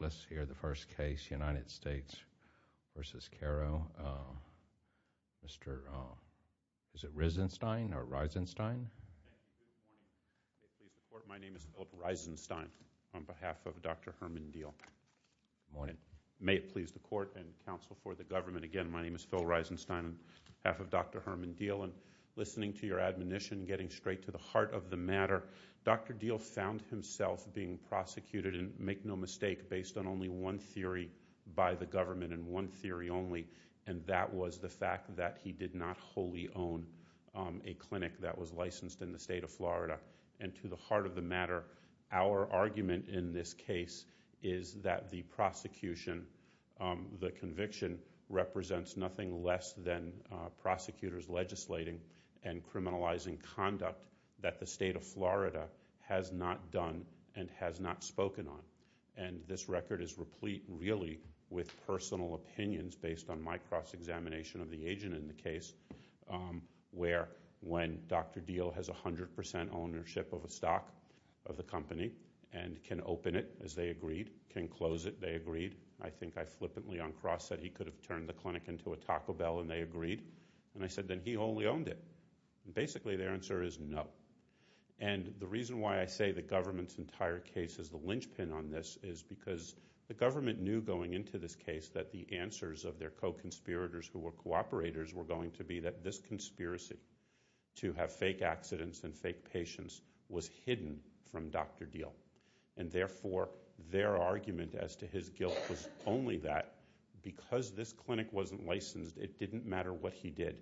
Let's hear the first case, United States v. Karow, Mr. Risenstein. My name is Philip Risenstein on behalf of Dr. Herman Diehl. May it please the court and counsel for the government, again, my name is Phil Risenstein on behalf of Dr. Herman Diehl, and listening to your admonition, getting straight to the heart of the matter, Dr. Diehl found himself being prosecuted. And make no mistake, based on only one theory by the government, and one theory only, and that was the fact that he did not wholly own a clinic that was licensed in the state of Florida. And to the heart of the matter, our argument in this case is that the prosecution, the conviction, represents nothing less than prosecutors legislating and criminalizing conduct that the state of Florida has not done and has not spoken on. And this record is replete, really, with personal opinions based on my cross-examination of the agent in the case, where when Dr. Diehl has 100% ownership of a stock of the company and can open it, as they agreed, can close it, they agreed, I think I flippantly uncross that he could have turned the clinic into a Taco Bell and they agreed, and I said then he only owned it. And basically, their answer is no. And the reason why I say the government's entire case is the linchpin on this is because the government knew going into this case that the answers of their co-conspirators who were cooperators were going to be that this conspiracy to have fake accidents and fake patients was hidden from Dr. Diehl. And therefore, their argument as to his guilt was only that because this clinic wasn't licensed, it didn't matter what he did.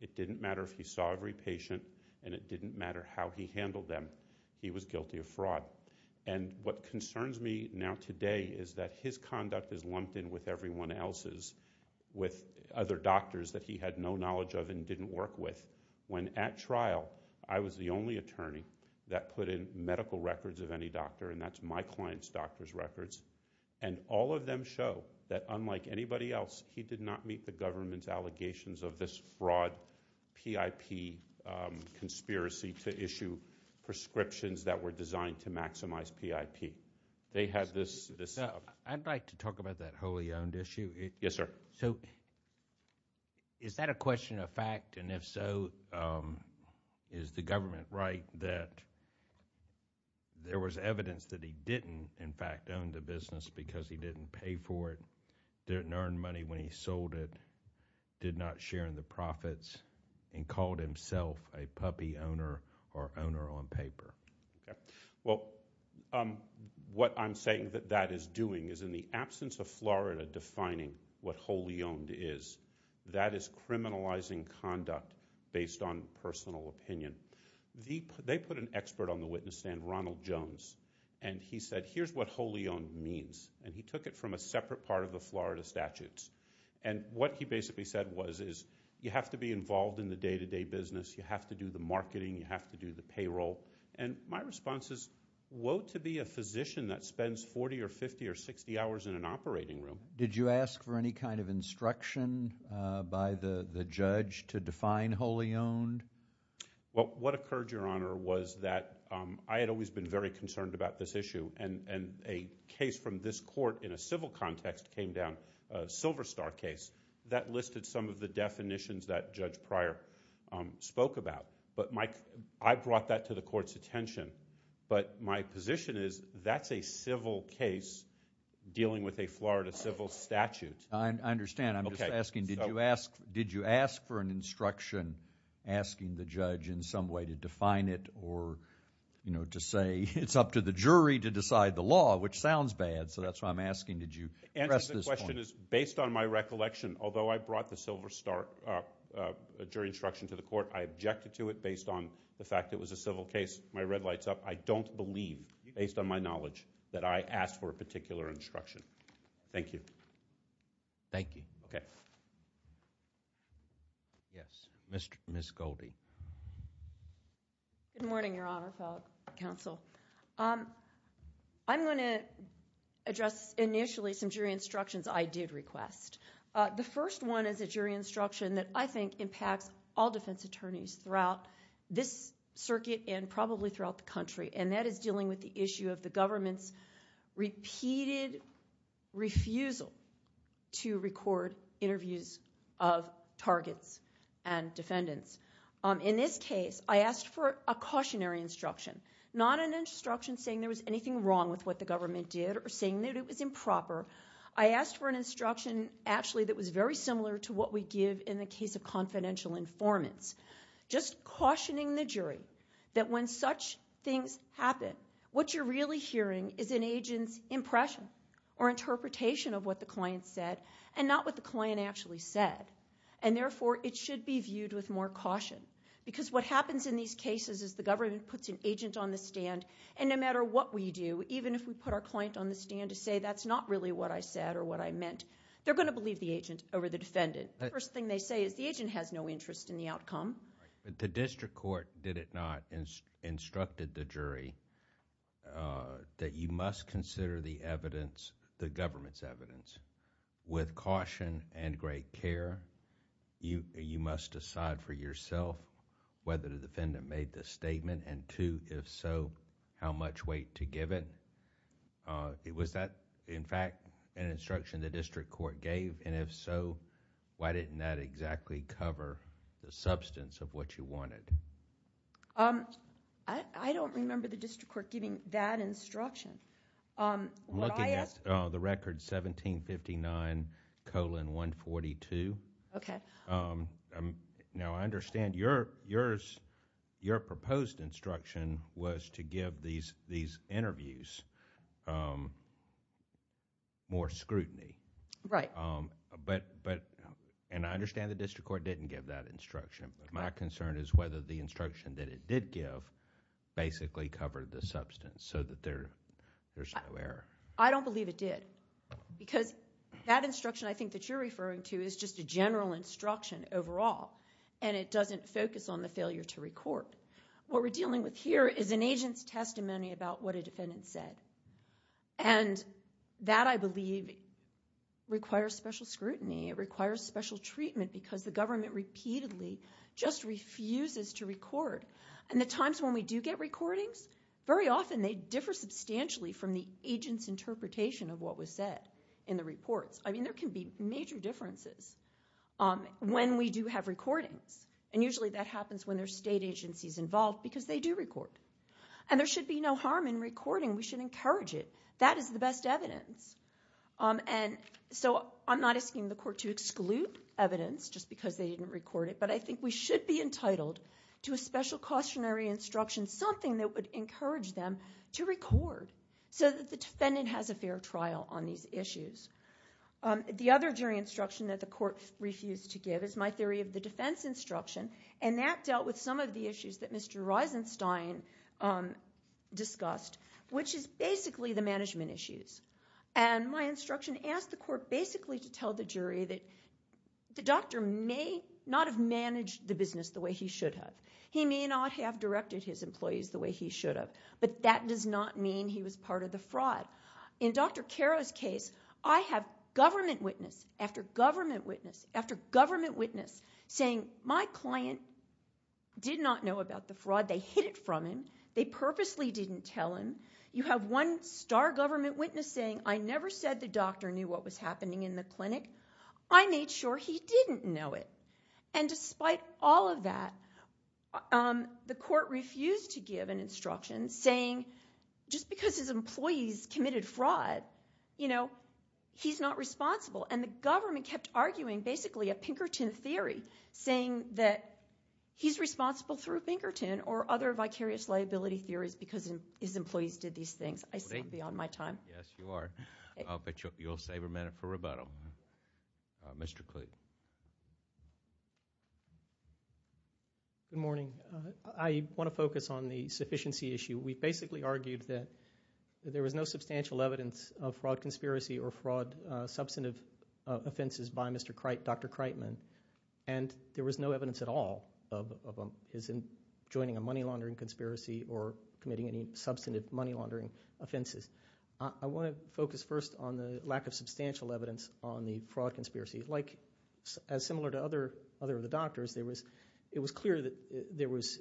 It didn't matter if he saw every patient and it didn't matter how he handled them. He was guilty of fraud. And what concerns me now today is that his conduct is lumped in with everyone else's, with other doctors that he had no knowledge of and didn't work with. When at trial, I was the only attorney that put in medical records of any doctor and that's my client's doctor's records. And all of them show that unlike anybody else, he did not meet the government's allegations of this fraud PIP conspiracy to issue prescriptions that were designed to maximize PIP. They had this— I'd like to talk about that wholly owned issue. Yes, sir. So, is that a question of fact, and if so, is the government right that there was evidence that he didn't, in fact, own the business because he didn't pay for it, didn't earn money when he sold it, did not share in the profits, and called himself a puppy owner or owner on paper? Well, what I'm saying that that is doing is in the absence of Florida defining what wholly owned is, that is criminalizing conduct based on personal opinion. They put an expert on the witness stand, Ronald Jones, and he said, here's what wholly owned means, and he took it from a separate part of the Florida statutes. And what he basically said was, is you have to be involved in the day-to-day business, you have to do the marketing, you have to do the payroll. And my response is, woe to be a physician that spends 40 or 50 or 60 hours in an operating room. Did you ask for any kind of instruction by the judge to define wholly owned? Well, what occurred, Your Honor, was that I had always been very concerned about this issue, and a case from this court in a civil context came down, a Silver Star case, that listed some of the definitions that Judge Pryor spoke about. But I brought that to the court's attention. But my position is, that's a civil case dealing with a Florida civil statute. I understand. I'm just asking, did you ask for an instruction asking the judge in some way to define it or to say, it's up to the jury to decide the law, which sounds bad, so that's why I'm asking, did you address this point? The answer to the question is, based on my recollection, although I brought the Silver Star jury instruction to the court, I objected to it based on the fact it was a civil case. My red light's up. I don't believe, based on my knowledge, that I asked for a particular instruction. Thank you. Thank you. Okay. Yes. Ms. Goldie. Good morning, Your Honor, fellow counsel. I'm going to address, initially, some jury instructions I did request. The first one is a jury instruction that I think impacts all defense attorneys throughout this circuit and probably throughout the country, and that is dealing with the issue of the to record interviews of targets and defendants. In this case, I asked for a cautionary instruction, not an instruction saying there was anything wrong with what the government did or saying that it was improper. I asked for an instruction, actually, that was very similar to what we give in the case of confidential informants, just cautioning the jury that when such things happen, what you're really hearing is an agent's impression or interpretation of what the client said and not what the client actually said, and therefore, it should be viewed with more caution because what happens in these cases is the government puts an agent on the stand, and no matter what we do, even if we put our client on the stand to say that's not really what I said or what I meant, they're going to believe the agent over the defendant. The first thing they say is the agent has no interest in the outcome. The district court, did it not, instructed the jury that you must consider the evidence, the government's evidence, with caution and great care. You must decide for yourself whether the defendant made the statement, and two, if so, how much weight to give it. It was that, in fact, an instruction the district court gave, and if so, why didn't that exactly cover the substance of what you wanted? I don't remember the district court giving that instruction. I'm looking at the record 1759 colon 142. Okay. Now, I understand your proposed instruction was to give these interviews more scrutiny, Right. but, and I understand the district court didn't give that instruction, but my concern is whether the instruction that it did give basically covered the substance so that there's no error. I don't believe it did, because that instruction I think that you're referring to is just a general instruction overall, and it doesn't focus on the failure to record. What we're dealing with here is an agent's testimony about what a defendant said, and that, I believe, requires special scrutiny, requires special treatment, because the government repeatedly just refuses to record, and the times when we do get recordings, very often they differ substantially from the agent's interpretation of what was said in the reports. I mean, there can be major differences when we do have recordings, and usually that happens when there's state agencies involved, because they do record, and there should be no harm in recording. We should encourage it. That is the best evidence, and so I'm not asking the court to exclude evidence just because they didn't record it, but I think we should be entitled to a special cautionary instruction, something that would encourage them to record, so that the defendant has a fair trial on these issues. The other general instruction that the court refused to give is my theory of the defense instruction, and that dealt with some of the issues that Mr. Reisenstein discussed, which is basically the management issues, and my instruction asked the court basically to tell the jury that the doctor may not have managed the business the way he should have. He may not have directed his employees the way he should have, but that does not mean he was part of the fraud. In Dr. Caro's case, I have government witness after government witness after government witness saying, my client did not know about the fraud. They hid it from him. They purposely didn't tell him. You have one star government witness saying, I never said the doctor knew what was happening in the clinic. I made sure he didn't know it, and despite all of that, the court refused to give an instruction saying, just because his employees committed fraud, you know, he's not responsible, and the government kept arguing basically a Pinkerton theory, saying that he's responsible through Pinkerton or other vicarious liability theories because his employees did these things. I've gone beyond my time. Yes, you are. I'll bet you'll save a minute for rebuttal. Mr. Clute. Good morning. I want to focus on the sufficiency issue. We basically argued that there was no substantial evidence of fraud conspiracy or fraud substantive by Mr. Cripe, Dr. Cripeman, and there was no evidence at all of him joining a money laundering conspiracy or committing any substantive money laundering offenses. I want to focus first on the lack of substantial evidence on the fraud conspiracy. Like as similar to other of the doctors, it was clear that there was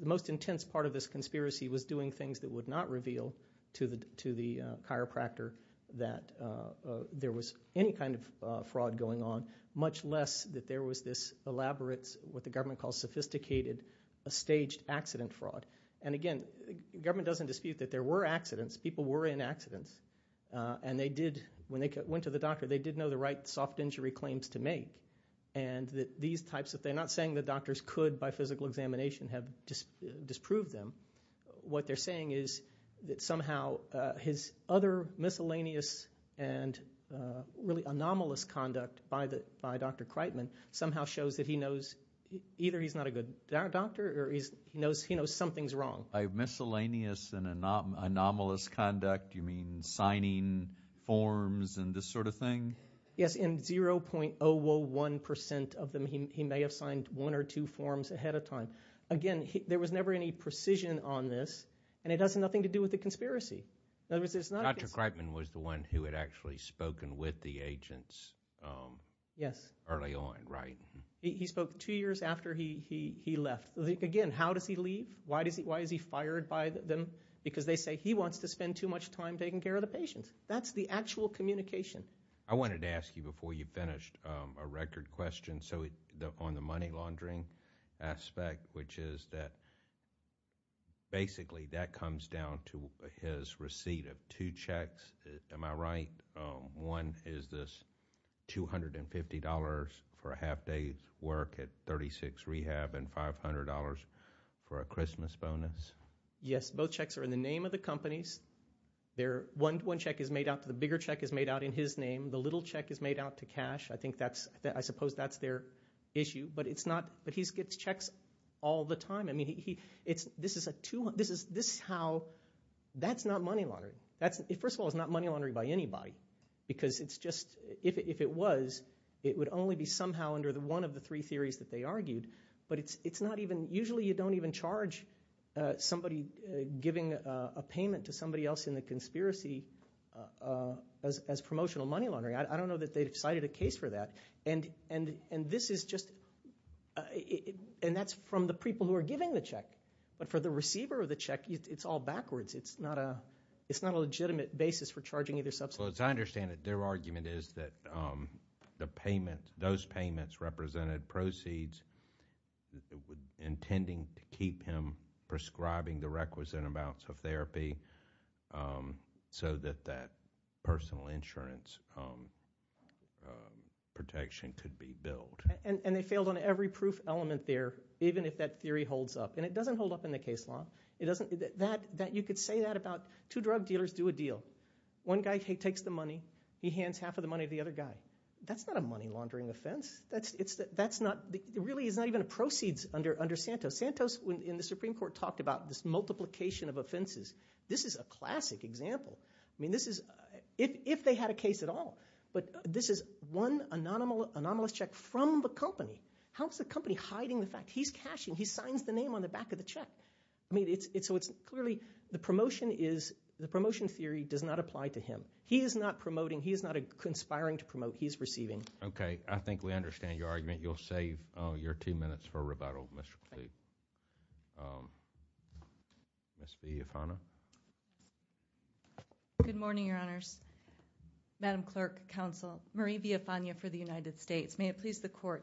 the most intense part of this conspiracy was doing things that would not reveal to the chiropractor that there was any kind of fraud going on, much less that there was this elaborate, what the government calls sophisticated, staged accident fraud. And again, the government doesn't dispute that there were accidents. People were in accidents. And they did, when they went to the doctor, they did know the right soft injury claims to make. And that these types, that they're not saying that doctors could by physical examination have disproved them. What they're saying is that somehow his other miscellaneous and really anomalous conduct by Dr. Cripeman somehow shows that he knows either he's not a good doctor or he knows something's wrong. By miscellaneous and anomalous conduct, you mean signing forms and this sort of thing? Yes, in 0.001% of them, he may have signed one or two forms ahead of time. Again, there was never any precision on this. And it has nothing to do with the conspiracy. Dr. Cripeman was the one who had actually spoken with the agents early on, right? Yes, he spoke two years after he left. Again, how does he leave? Why is he fired by them? Because they say he wants to spend too much time taking care of the patients. That's the actual communication. I wanted to ask you before you finished a record question on the money laundering aspect, which is that basically that comes down to his receipt of two checks. Am I right? One is this $250 for a half day's work at 36 rehab and $500 for a Christmas bonus? Yes, both checks are in the name of the companies. One check is made out to the bigger check is made out in his name. The little check is made out to cash. I suppose that's their issue. But he gets checks all the time. This is how – that's not money laundering. First of all, it's not money laundering by anybody. Because if it was, it would only be somehow under one of the three theories that they argued. But it's not even – usually you don't even charge somebody giving a payment to somebody else in the conspiracy as promotional money laundering. I don't know that they've cited a case for that. And this is just – and that's from the people who are giving the check. But for the receiver of the check, it's all backwards. It's not a legitimate basis for charging either substance. So as I understand it, their argument is that the payment – those payments represented proceeds intending to keep him prescribing the requisite amounts of therapy so that that personal insurance protection could be built. And they failed on every proof element there, even if that theory holds up. And it doesn't hold up in the case law. You could say that about two drug dealers do a deal. One guy takes the money. He hands half of the money to the other guy. That's not a money laundering offense. That's not – it really is not even a proceeds under Santos. Santos, in the Supreme Court, talked about this multiplication of offenses. This is a classic example. I mean, this is – if they had a case at all. But this is one anomalous check from the company. How is the company hiding the fact he's cashing? He signs the name on the back of the check. I mean, it's – so it's clearly the promotion is – the promotion theory does not apply to him. He is not promoting. He is not conspiring to promote. He is receiving. Okay. I think we understand your argument. You'll save your two minutes for rebuttal, Mr. Kluge. Ms. Villafana. Good morning, Your Honors. May it please the Court.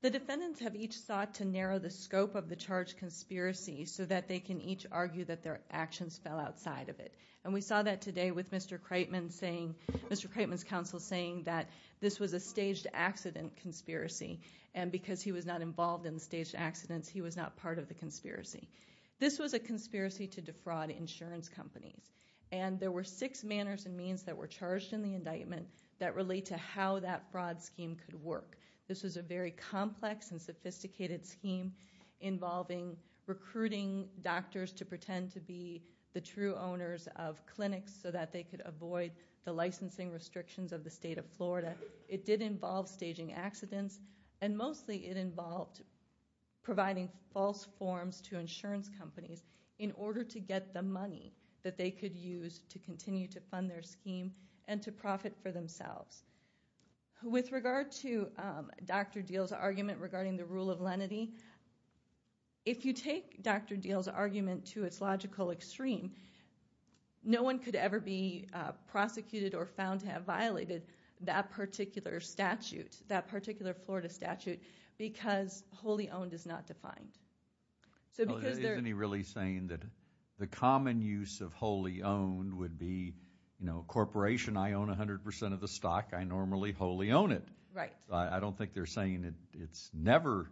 The defendants have each sought to narrow the scope of the charged conspiracy so that they can each argue that their actions fell outside of it. And we saw that today with Mr. Creighton saying – Mr. Creighton's counsel saying that this was a staged accident conspiracy. And because he was not involved in staged accidents, he was not part of the conspiracy. This was a conspiracy to defraud insurance companies. And there were six manners and means that were charged in the indictment that relate to how that fraud scheme could work. This was a very complex and sophisticated scheme involving recruiting doctors to pretend to be the true owners of clinics so that they could avoid the licensing restrictions of the state of Florida. It did involve staging accidents. And mostly it involved providing false forms to insurance companies in order to get the money that they could use to continue to fund their scheme and to profit for themselves. With regard to Dr. Deal's argument regarding the rule of lenity, if you take Dr. Deal's argument to its logical extreme, no one could ever be prosecuted or found to have violated that particular statute, that particular Florida statute, because wholly owned is not defined. Isn't he really saying that the common use of wholly owned would be, corporation, I own 100% of the stock, I normally wholly own it. I don't think they're saying it's never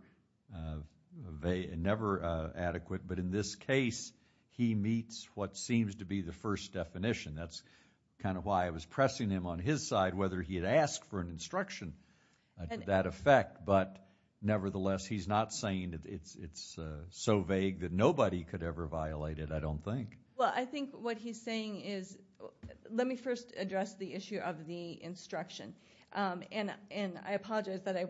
adequate. But in this case, he meets what seems to be the first definition. That's kind of why I was pressing him on his side, whether he had asked for an instruction to that effect. But nevertheless, he's not saying that it's so vague that nobody could ever violate it, I don't think. Well, I think what he's saying is, let me first address the issue of the instruction. And I apologize that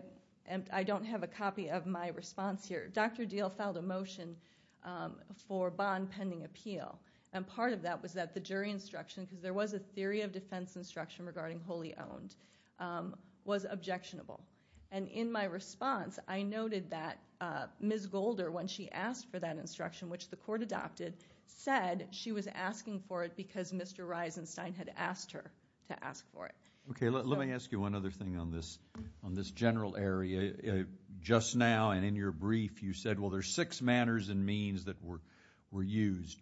I don't have a copy of my response here. Dr. Deal filed a motion for bond pending appeal. And part of that was that the jury instruction, because there was a theory of defense instruction regarding wholly owned, was objectionable. And in my response, I noted that Ms. Golder, when she asked for that instruction, which the court adopted, said she was asking for it because Mr. Reisenstein had asked her to ask for it. Okay, let me ask you one other thing on this general area. Just now and in your brief, you said, well, there's six manners and means that were used.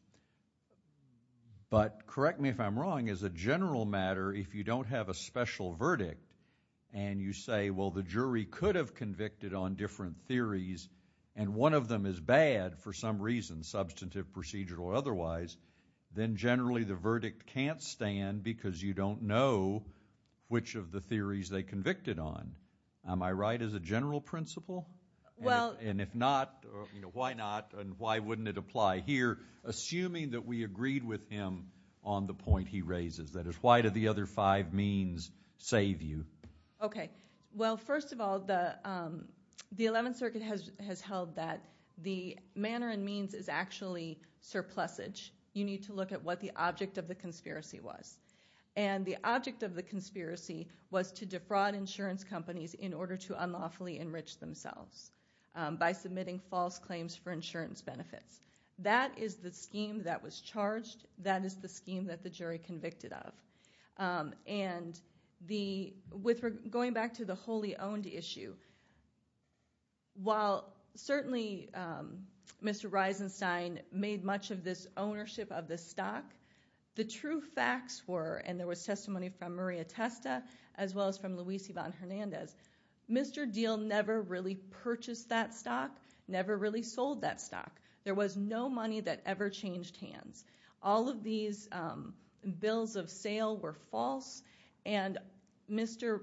But correct me if I'm wrong, as a general matter, if you don't have a special verdict, and you say, well, the jury could have convicted on different theories, and one of them is bad for some reason, substantive, procedural, or otherwise, then generally the verdict can't stand because you don't know which of the theories they convicted on. Am I right as a general principle? And if not, why not, and why wouldn't it apply here, assuming that we agreed with him on the point he raises? That is, why do the other five means save you? Okay, well, first of all, the 11th Circuit has held that the manner and means is actually surplusage. You need to look at what the object of the conspiracy was. And the object of the conspiracy was to defraud insurance companies in order to unlawfully enrich themselves by submitting false claims for insurance benefits. That is the scheme that was charged. That is the scheme that the jury convicted of. And with going back to the wholly owned issue, while certainly Mr. Reisenstein made much of this ownership of the stock, the true facts were, and there was testimony from Maria Testa as well as from Luis Yvonne Hernandez, Mr. Diehl never really purchased that stock, never really sold that stock. There was no money that ever changed hands. All of these bills of sale were false, and Dr.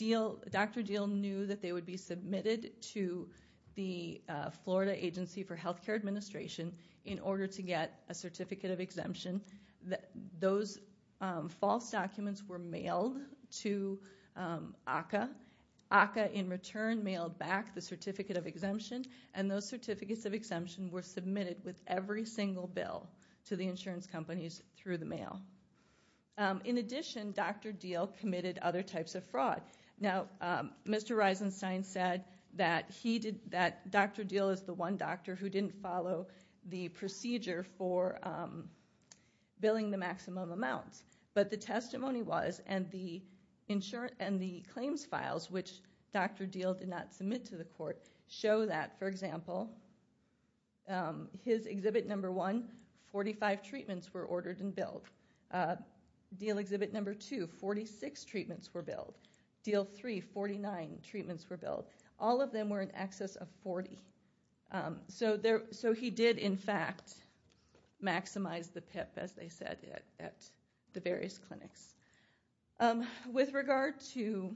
Diehl knew that they would be submitted to the Florida Agency for Healthcare Administration in order to get a certificate of exemption. Those false documents were mailed to ACCA. ACCA, in return, mailed back the certificate of exemption, and those certificates of exemption were submitted with every single bill to the insurance companies through the mail. In addition, Dr. Diehl committed other types of fraud. Now, Mr. Reisenstein said that Dr. Diehl is the one doctor who didn't follow the procedure for billing the maximum amount. But the testimony was, and the claims files, show that, for example, his Exhibit No. 1, 45 treatments were ordered and billed. Diehl Exhibit No. 2, 46 treatments were billed. Diehl 3, 49 treatments were billed. All of them were in excess of 40. So he did, in fact, maximize the PIP, as they said, at the various clinics. With regard to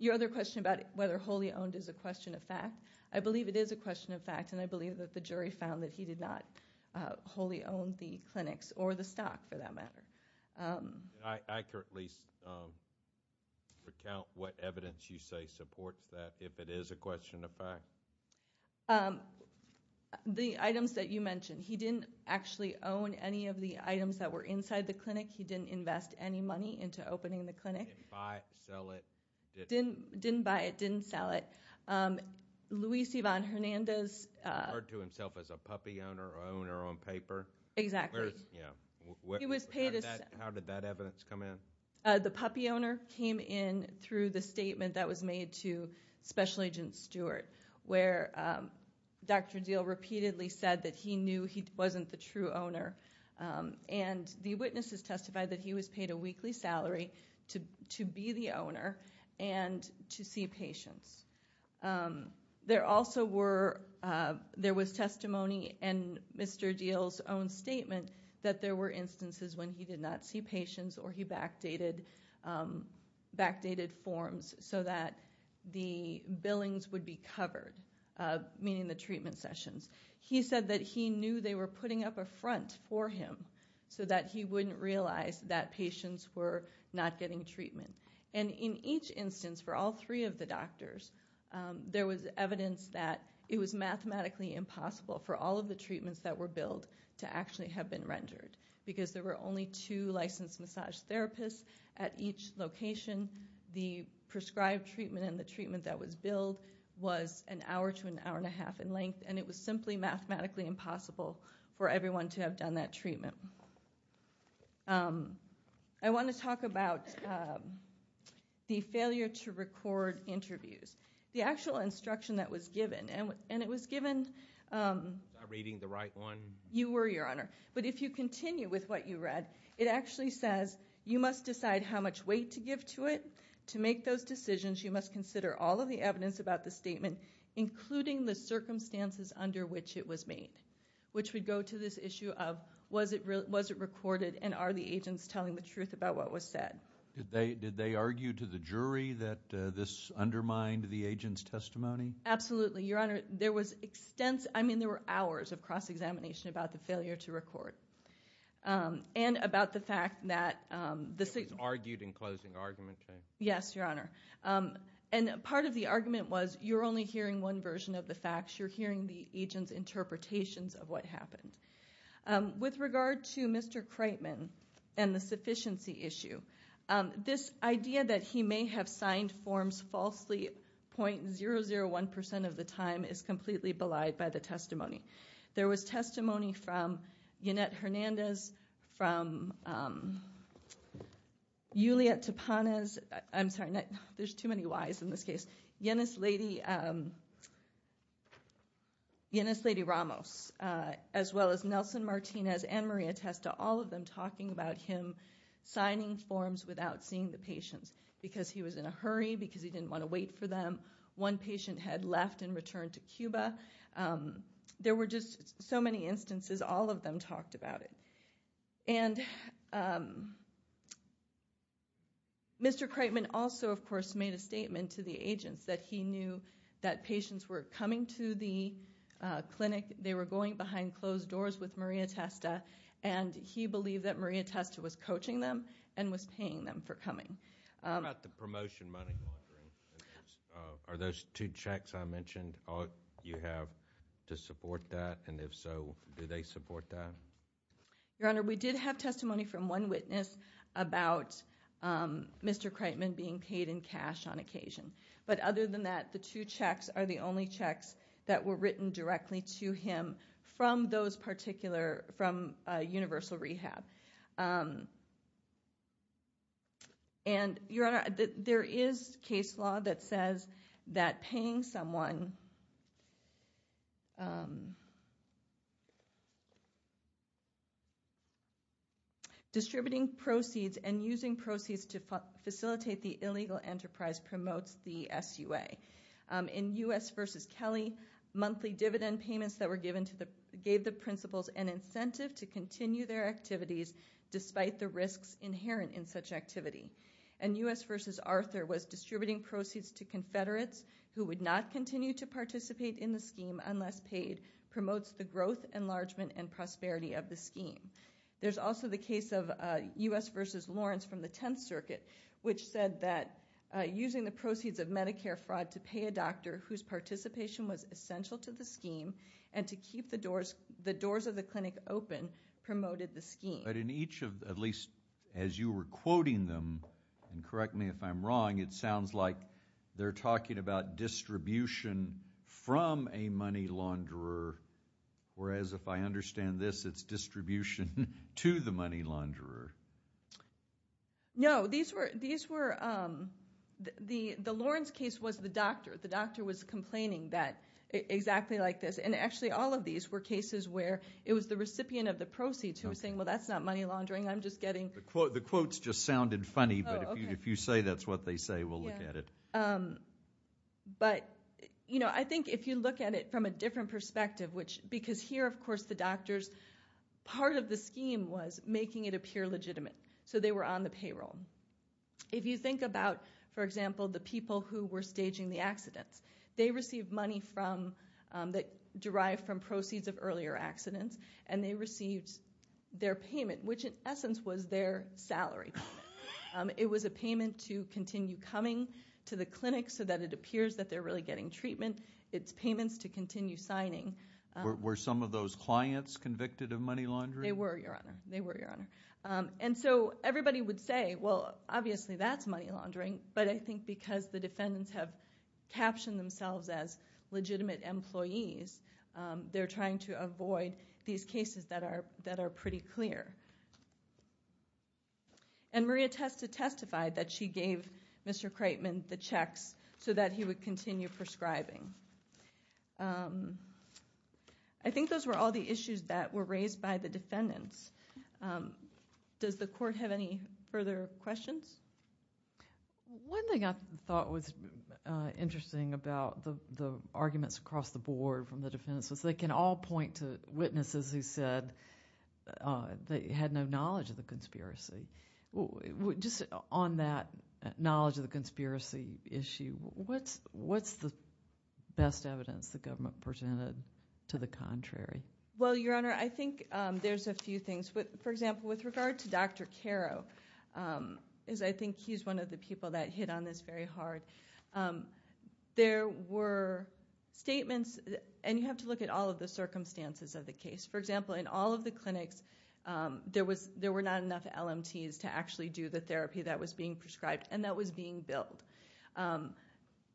your other question about whether wholly owned is a question of fact, I believe it is a question of fact, and I believe that the jury found that he did not wholly own the clinics or the stock, for that matter. I could at least recount what evidence you say supports that, if it is a question of fact. The items that you mentioned. He didn't actually own any of the items that were inside the clinic. He didn't invest any money into opening the clinic. Didn't buy it, sell it. Didn't buy it, didn't sell it. Luis Ivan Hernandez... He referred to himself as a puppy owner or owner on paper. Exactly. Yeah. He was paid... How did that evidence come in? The puppy owner came in through the statement that was made to Special Agent Stewart, where Dr. Diehl repeatedly said that he knew he wasn't the true owner. And the witnesses testified that he was paid a weekly salary to be the owner and to see patients. There also were... There was testimony in Mr. Diehl's own statement that there were instances when he did not see patients or he backdated forms so that the billings would be covered, meaning the treatment sessions. He said that he knew they were putting up a front for him so that he wouldn't realize that patients were not getting treatment. And in each instance for all three of the doctors, there was evidence that it was mathematically impossible for all of the treatments that were billed to actually have been rendered, because there were only two licensed massage therapists at each location. The prescribed treatment and the treatment that was billed was an hour to an hour and a half in length, and it was simply mathematically impossible for everyone to have done that treatment. Um...I want to talk about the failure to record interviews. The actual instruction that was given, and it was given... Was I reading the right one? You were, Your Honor. But if you continue with what you read, it actually says, you must decide how much weight to give to it. To make those decisions, you must consider all of the evidence about the statement, including the circumstances under which it was made, which would go to this issue of, was it recorded, and are the agents telling the truth about what was said? Did they argue to the jury that this undermined the agent's testimony? Absolutely, Your Honor. There was extensive... I mean, there were hours of cross-examination about the failure to record, and about the fact that... It was argued in closing argument, too. Yes, Your Honor. And part of the argument was, you're only hearing one version of the facts. You're hearing the agent's interpretations of what happened. With regard to Mr. Kreitman and the sufficiency issue, this idea that he may have signed forms falsely .001% of the time is completely belied by the testimony. There was testimony from Yanet Hernandez, from, um... Yulia Tapanes. I'm sorry, there's too many Ys in this case. Yanis Lady, um... Yanis Lady Ramos, as well as Nelson Martinez and Maria Testa, all of them talking about him signing forms without seeing the patients, because he was in a hurry, because he didn't want to wait for them. One patient had left and returned to Cuba. There were just so many instances. And, um... Mr. Kreitman also, of course, made a statement to the agents that he knew that patients were coming to the clinic, they were going behind closed doors with Maria Testa, and he believed that Maria Testa was coaching them and was paying them for coming. What about the promotion money laundering? Are those two checks I mentioned all you have to support that? And if so, do they support that? Your Honor, we did have testimony from one witness about Mr. Kreitman being paid in cash on occasion. But other than that, the two checks are the only checks that were written directly to him from those particular... from Universal Rehab. And, Your Honor, there is case law that says that paying someone... Distributing proceeds and using proceeds to facilitate the illegal enterprise promotes the SUA. In U.S. v. Kelly, monthly dividend payments that were given gave the principals an incentive to continue their activities despite the risks inherent in such activity. And U.S. v. Arthur was distributing proceeds to Confederates who would not continue to participate in the scheme unless paid promotes the growth, enlargement, and prosperity of the scheme. There's also the case of U.S. v. Lawrence from the Tenth Circuit, which said that using the proceeds of Medicare fraud to pay a doctor whose participation was essential to the scheme and to keep the doors... the doors of the clinic open promoted the scheme. But in each of... at least as you were quoting them, and correct me if I'm wrong, it sounds like they're talking about distribution from a money launderer, whereas if I understand this, it's distribution to the money launderer. No, these were... these were... the Lawrence case was the doctor. The doctor was complaining that... exactly like this. And actually, all of these were cases where it was the recipient of the proceeds who was saying, well, that's not money laundering. I'm just getting... The quotes just sounded funny, but if you say that's what they say, we'll look at it. But, you know, I think if you look at it from a different perspective, which... because here, of course, the doctors... part of the scheme was making it appear legitimate. So they were on the payroll. If you think about, for example, the people who were staging the accidents, they received money from... that derived from proceeds of earlier accidents, and they received their payment, which in essence was their salary. Um, it was a payment to continue coming to the clinic so that it appears that they're really getting treatment. It's payments to continue signing. Were some of those clients convicted of money laundering? They were, Your Honor. They were, Your Honor. Um, and so everybody would say, well, obviously that's money laundering, but I think because the defendants have captioned themselves as legitimate employees, um, they're trying to avoid these cases that are... that are pretty clear. And Maria test... testified that she gave Mr. Kreitman the checks so that he would continue prescribing. Um, I think those were all the issues that were raised by the defendants. Um, does the court have any further questions? One thing I thought was interesting about the arguments across the board from the defendants was they can all point to witnesses who said they had no knowledge of the conspiracy. Just on that knowledge of the conspiracy issue, what's the... best evidence the government presented to the contrary? Well, Your Honor, I think, um, there's a few things. For example, with regard to Dr. Caro, um, is I think he's one of the people that hit on this very hard. Um, there were statements... and you have to look at all of the circumstances of the case. For example, in all of the clinics, um, there was... there were not enough LMTs to actually do the therapy that was being prescribed and that was being billed. Um,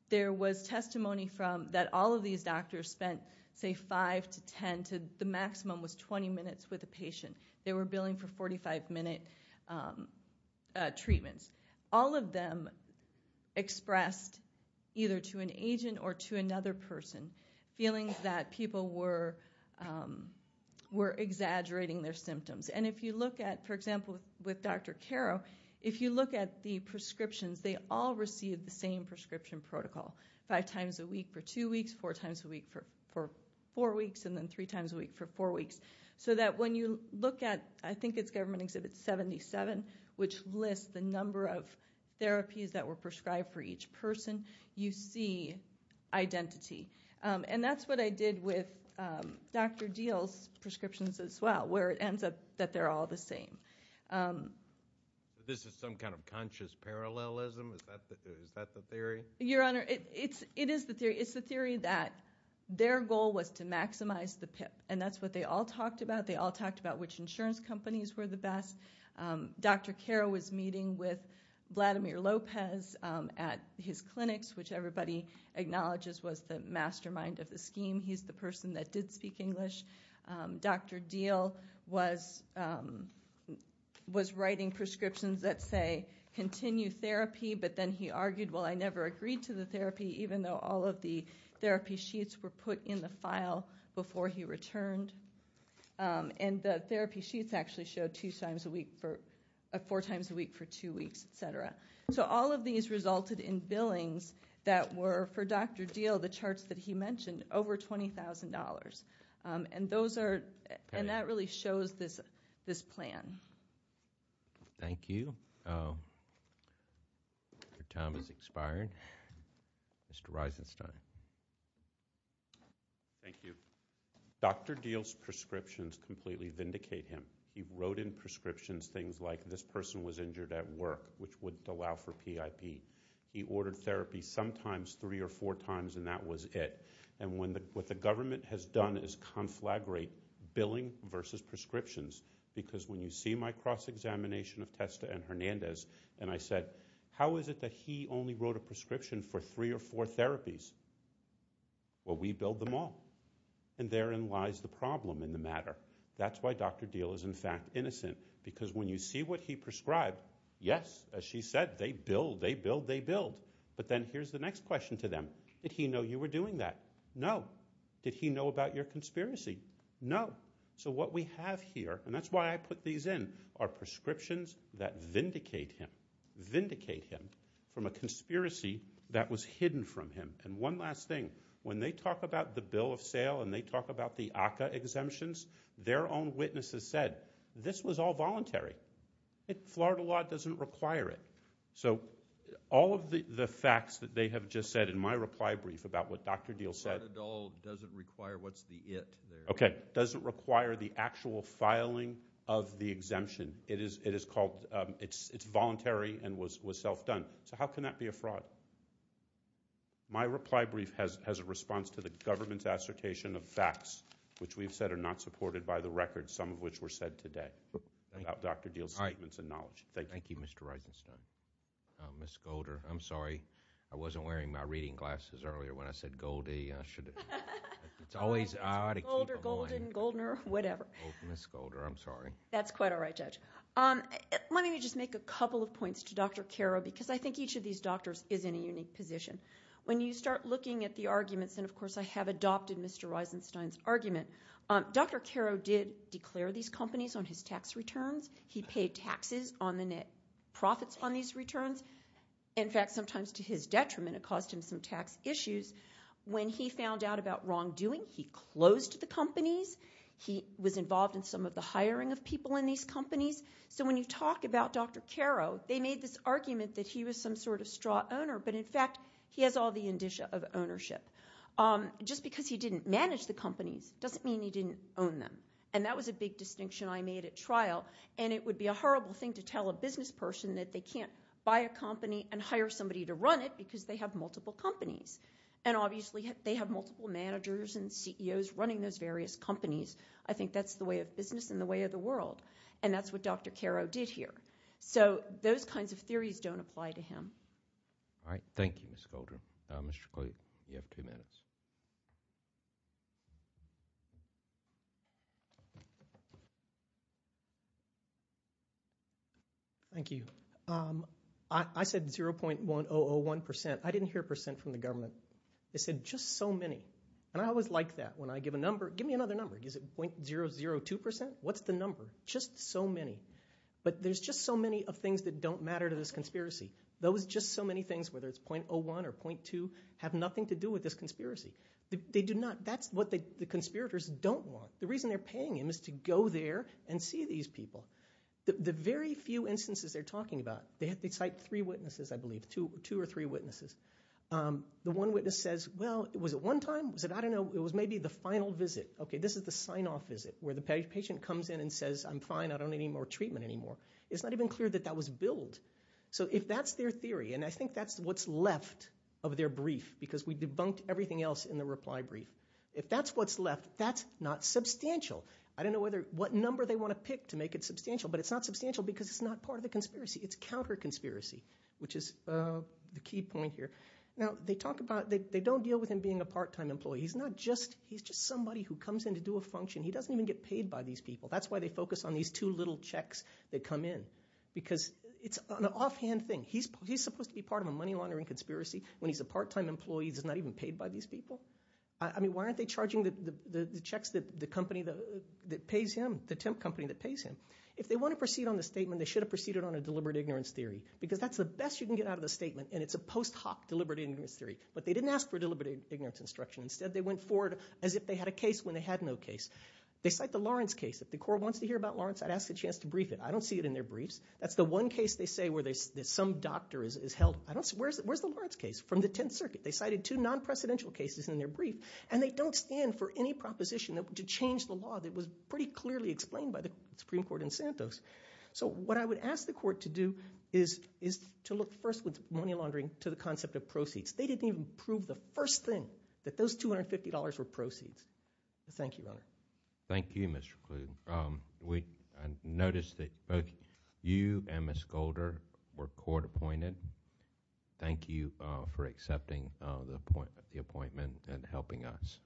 there was testimony from... that all of these doctors spent, say, five to ten to... the maximum was 20 minutes with a patient. They were billing for 45-minute, um, uh, treatments. All of them expressed either to an agent or to another person feelings that people were, um, were exaggerating their symptoms. And if you look at, for example, with Dr. Caro, if you look at the prescriptions, they all received the same prescription protocol five times a week for two weeks, four times a week for four weeks, and then three times a week for four weeks. So that when you look at... I think it's Government Exhibit 77, which lists the number of therapies that were prescribed for each person, you see identity. Um, and that's what I did with, um, Dr. Diehl's prescriptions as well, where it ends up that they're all the same. Um... This is some kind of conscious parallelism? Is that... is that the theory? Your Honor, it's... it is the theory. It's the theory that their goal was to maximize the PIP, and that's what they all talked about. They all talked about which insurance companies were the best. Um, Dr. Caro was meeting with Vladimir Lopez, um, at his clinics, which everybody acknowledges was the mastermind of the scheme. He's the person that did speak English. Um, Dr. Diehl was, um, was writing prescriptions that say, continue therapy, but then he argued, well, I never agreed to the therapy even though all of the therapy sheets were put in the file before he returned. Um, and the therapy sheets actually showed two times a week for... four times a week for two weeks, et cetera. So all of these resulted in billings that were, for Dr. Diehl, the charts that he mentioned, over $20,000. Um, and those are... and that really shows this... this plan. Thank you. Um... Your time has expired. Mr. Eisenstein. Thank you. Dr. Diehl's prescriptions completely vindicate him. He wrote in prescriptions things like, this person was injured at work, which wouldn't allow for PIP. He ordered therapy sometimes three or four times and that was it. And when the... what the government has done is conflagrate billing versus prescriptions because when you see my cross-examination of Testa and Hernandez and I said, how is it that he only wrote a prescription for three or four therapies? Well, we billed them all. And therein lies the problem in the matter. That's why Dr. Diehl is in fact innocent because when you see what he prescribed, yes, as she said, they billed, they billed, they billed. But then here's the next question to them. Did he know you were doing that? No. Did he know about your conspiracy? No. So what we have here, and that's why I put these in, are prescriptions that vindicate him, vindicate him from a conspiracy that was hidden from him. And one last thing. When they talk about the bill of sale and they talk about the ACA exemptions, their own witnesses said, this was all voluntary. Florida law doesn't require it. So all of the facts that they have just said in my reply brief about what Dr. Diehl said... Florida law doesn't require what's the it there. Okay. Doesn't require the actual filing of the exemption and it is called it's voluntary and was self-done. So how can that be a fraud? My reply brief has a response to the government's assertion of facts which we've said are not supported by the record, some of which were said today about Dr. Diehl's statements and knowledge. Thank you. Thank you, Mr. Eisenstein. Ms. Golder, I'm sorry. I wasn't wearing my reading glasses earlier when I said Goldie. It's always odd. Golder, Golden, Goldner, whatever. Ms. Golder, I'm sorry. That's quite all right, Judge. Let me just make a couple of points to Dr. Caro because I think each of these doctors is in a unique position. When you start looking at the arguments and of course I have adopted Mr. Eisenstein's argument, Dr. Caro did declare these companies on his tax returns. He paid taxes on the net profits on these returns. In fact, sometimes to his detriment it caused him some tax issues. When he found out about wrongdoing, he closed the companies. He was involved in some of the hiring of people in these companies. So when you talk about Dr. Caro, they made this argument that he was some sort of straw owner but in fact he has all the indicia of ownership. Just because he didn't manage the companies doesn't mean he didn't own them and that was a big distinction I made at trial and it would be a horrible thing to tell a business person that they can't buy a company and hire somebody to run it because they have multiple companies and obviously they have multiple managers and CEOs running those various companies. I think that's the way of business and the way of the world and that's what Dr. Caro did here. So those kinds of theories don't apply to him. Thank you, Ms. Goldrum. Mr. Clayton, I didn't hear a percent from the government. They said just 0.001%. I said 0.001%. I didn't hear a percent from the government. Just so many and I always like that when I give a number. Give me another number. Is it 0.002%? What's the number? Just so many but there's just so many of things that don't matter to this conspiracy. Those just so many things whether it's 0.01 or 0.2 have nothing to do with this conspiracy. They do not. That's what the conspirators don't want. The reason they're paying him is to go there and see these people. The very few instances they're talking about they cite three witnesses I believe, two or three witnesses. The one witness says well, was it one time? I don't know. It was maybe the final visit. This is the sign-off visit where the patient comes in and says I'm fine. I don't need any more treatment anymore. It's not even clear that that was billed. If that's their theory and I think that's what's left of their brief because we debunked everything else in the reply brief. If that's what's left that's not substantial. I don't know what number they want to pick to make it substantial but it's not substantial because it's not part of the conspiracy. It's counter-conspiracy which is the key point here. Now, they talk about they don't deal with him being a part-time employee. He's not just he's just somebody who comes in to do a function. He doesn't even get paid by these people. That's why they focus on these two little checks that come in because it's an offhand thing. He's supposed to be part of a money laundering conspiracy when he's a part-time employee that's not even paid by these people. I mean, why aren't they charging the checks that the company that pays him the temp company that pays him? If they want to proceed on the statement they should have proceeded on a deliberate ignorance theory because that's the best you can get out of the statement and it's a post hoc deliberate ignorance theory but they didn't ask for deliberate ignorance instruction. Instead, they went forward as if they had a case when they had no case. They cite the Lawrence case. If the court wants to hear about Lawrence I'd ask a chance to brief it. I don't see it in their briefs. That's the one case they say where some doctor is held. Where's the Lawrence case? From the 10th Circuit. They cited two non-precedential cases in their brief and they don't stand for any proposition to change the law that was pretty clearly explained by the Supreme Court in Santos. So what I would ask the court to do is to look first with money laundering to the concept of proceeds. They didn't even prove the first thing that those $250 were proceeds. Thank you, Your Honor. Thank you, Mr. Kluge. Thank you. We noticed that both you and Ms. Golder were court appointed. Thank you for accepting the appointment and helping us.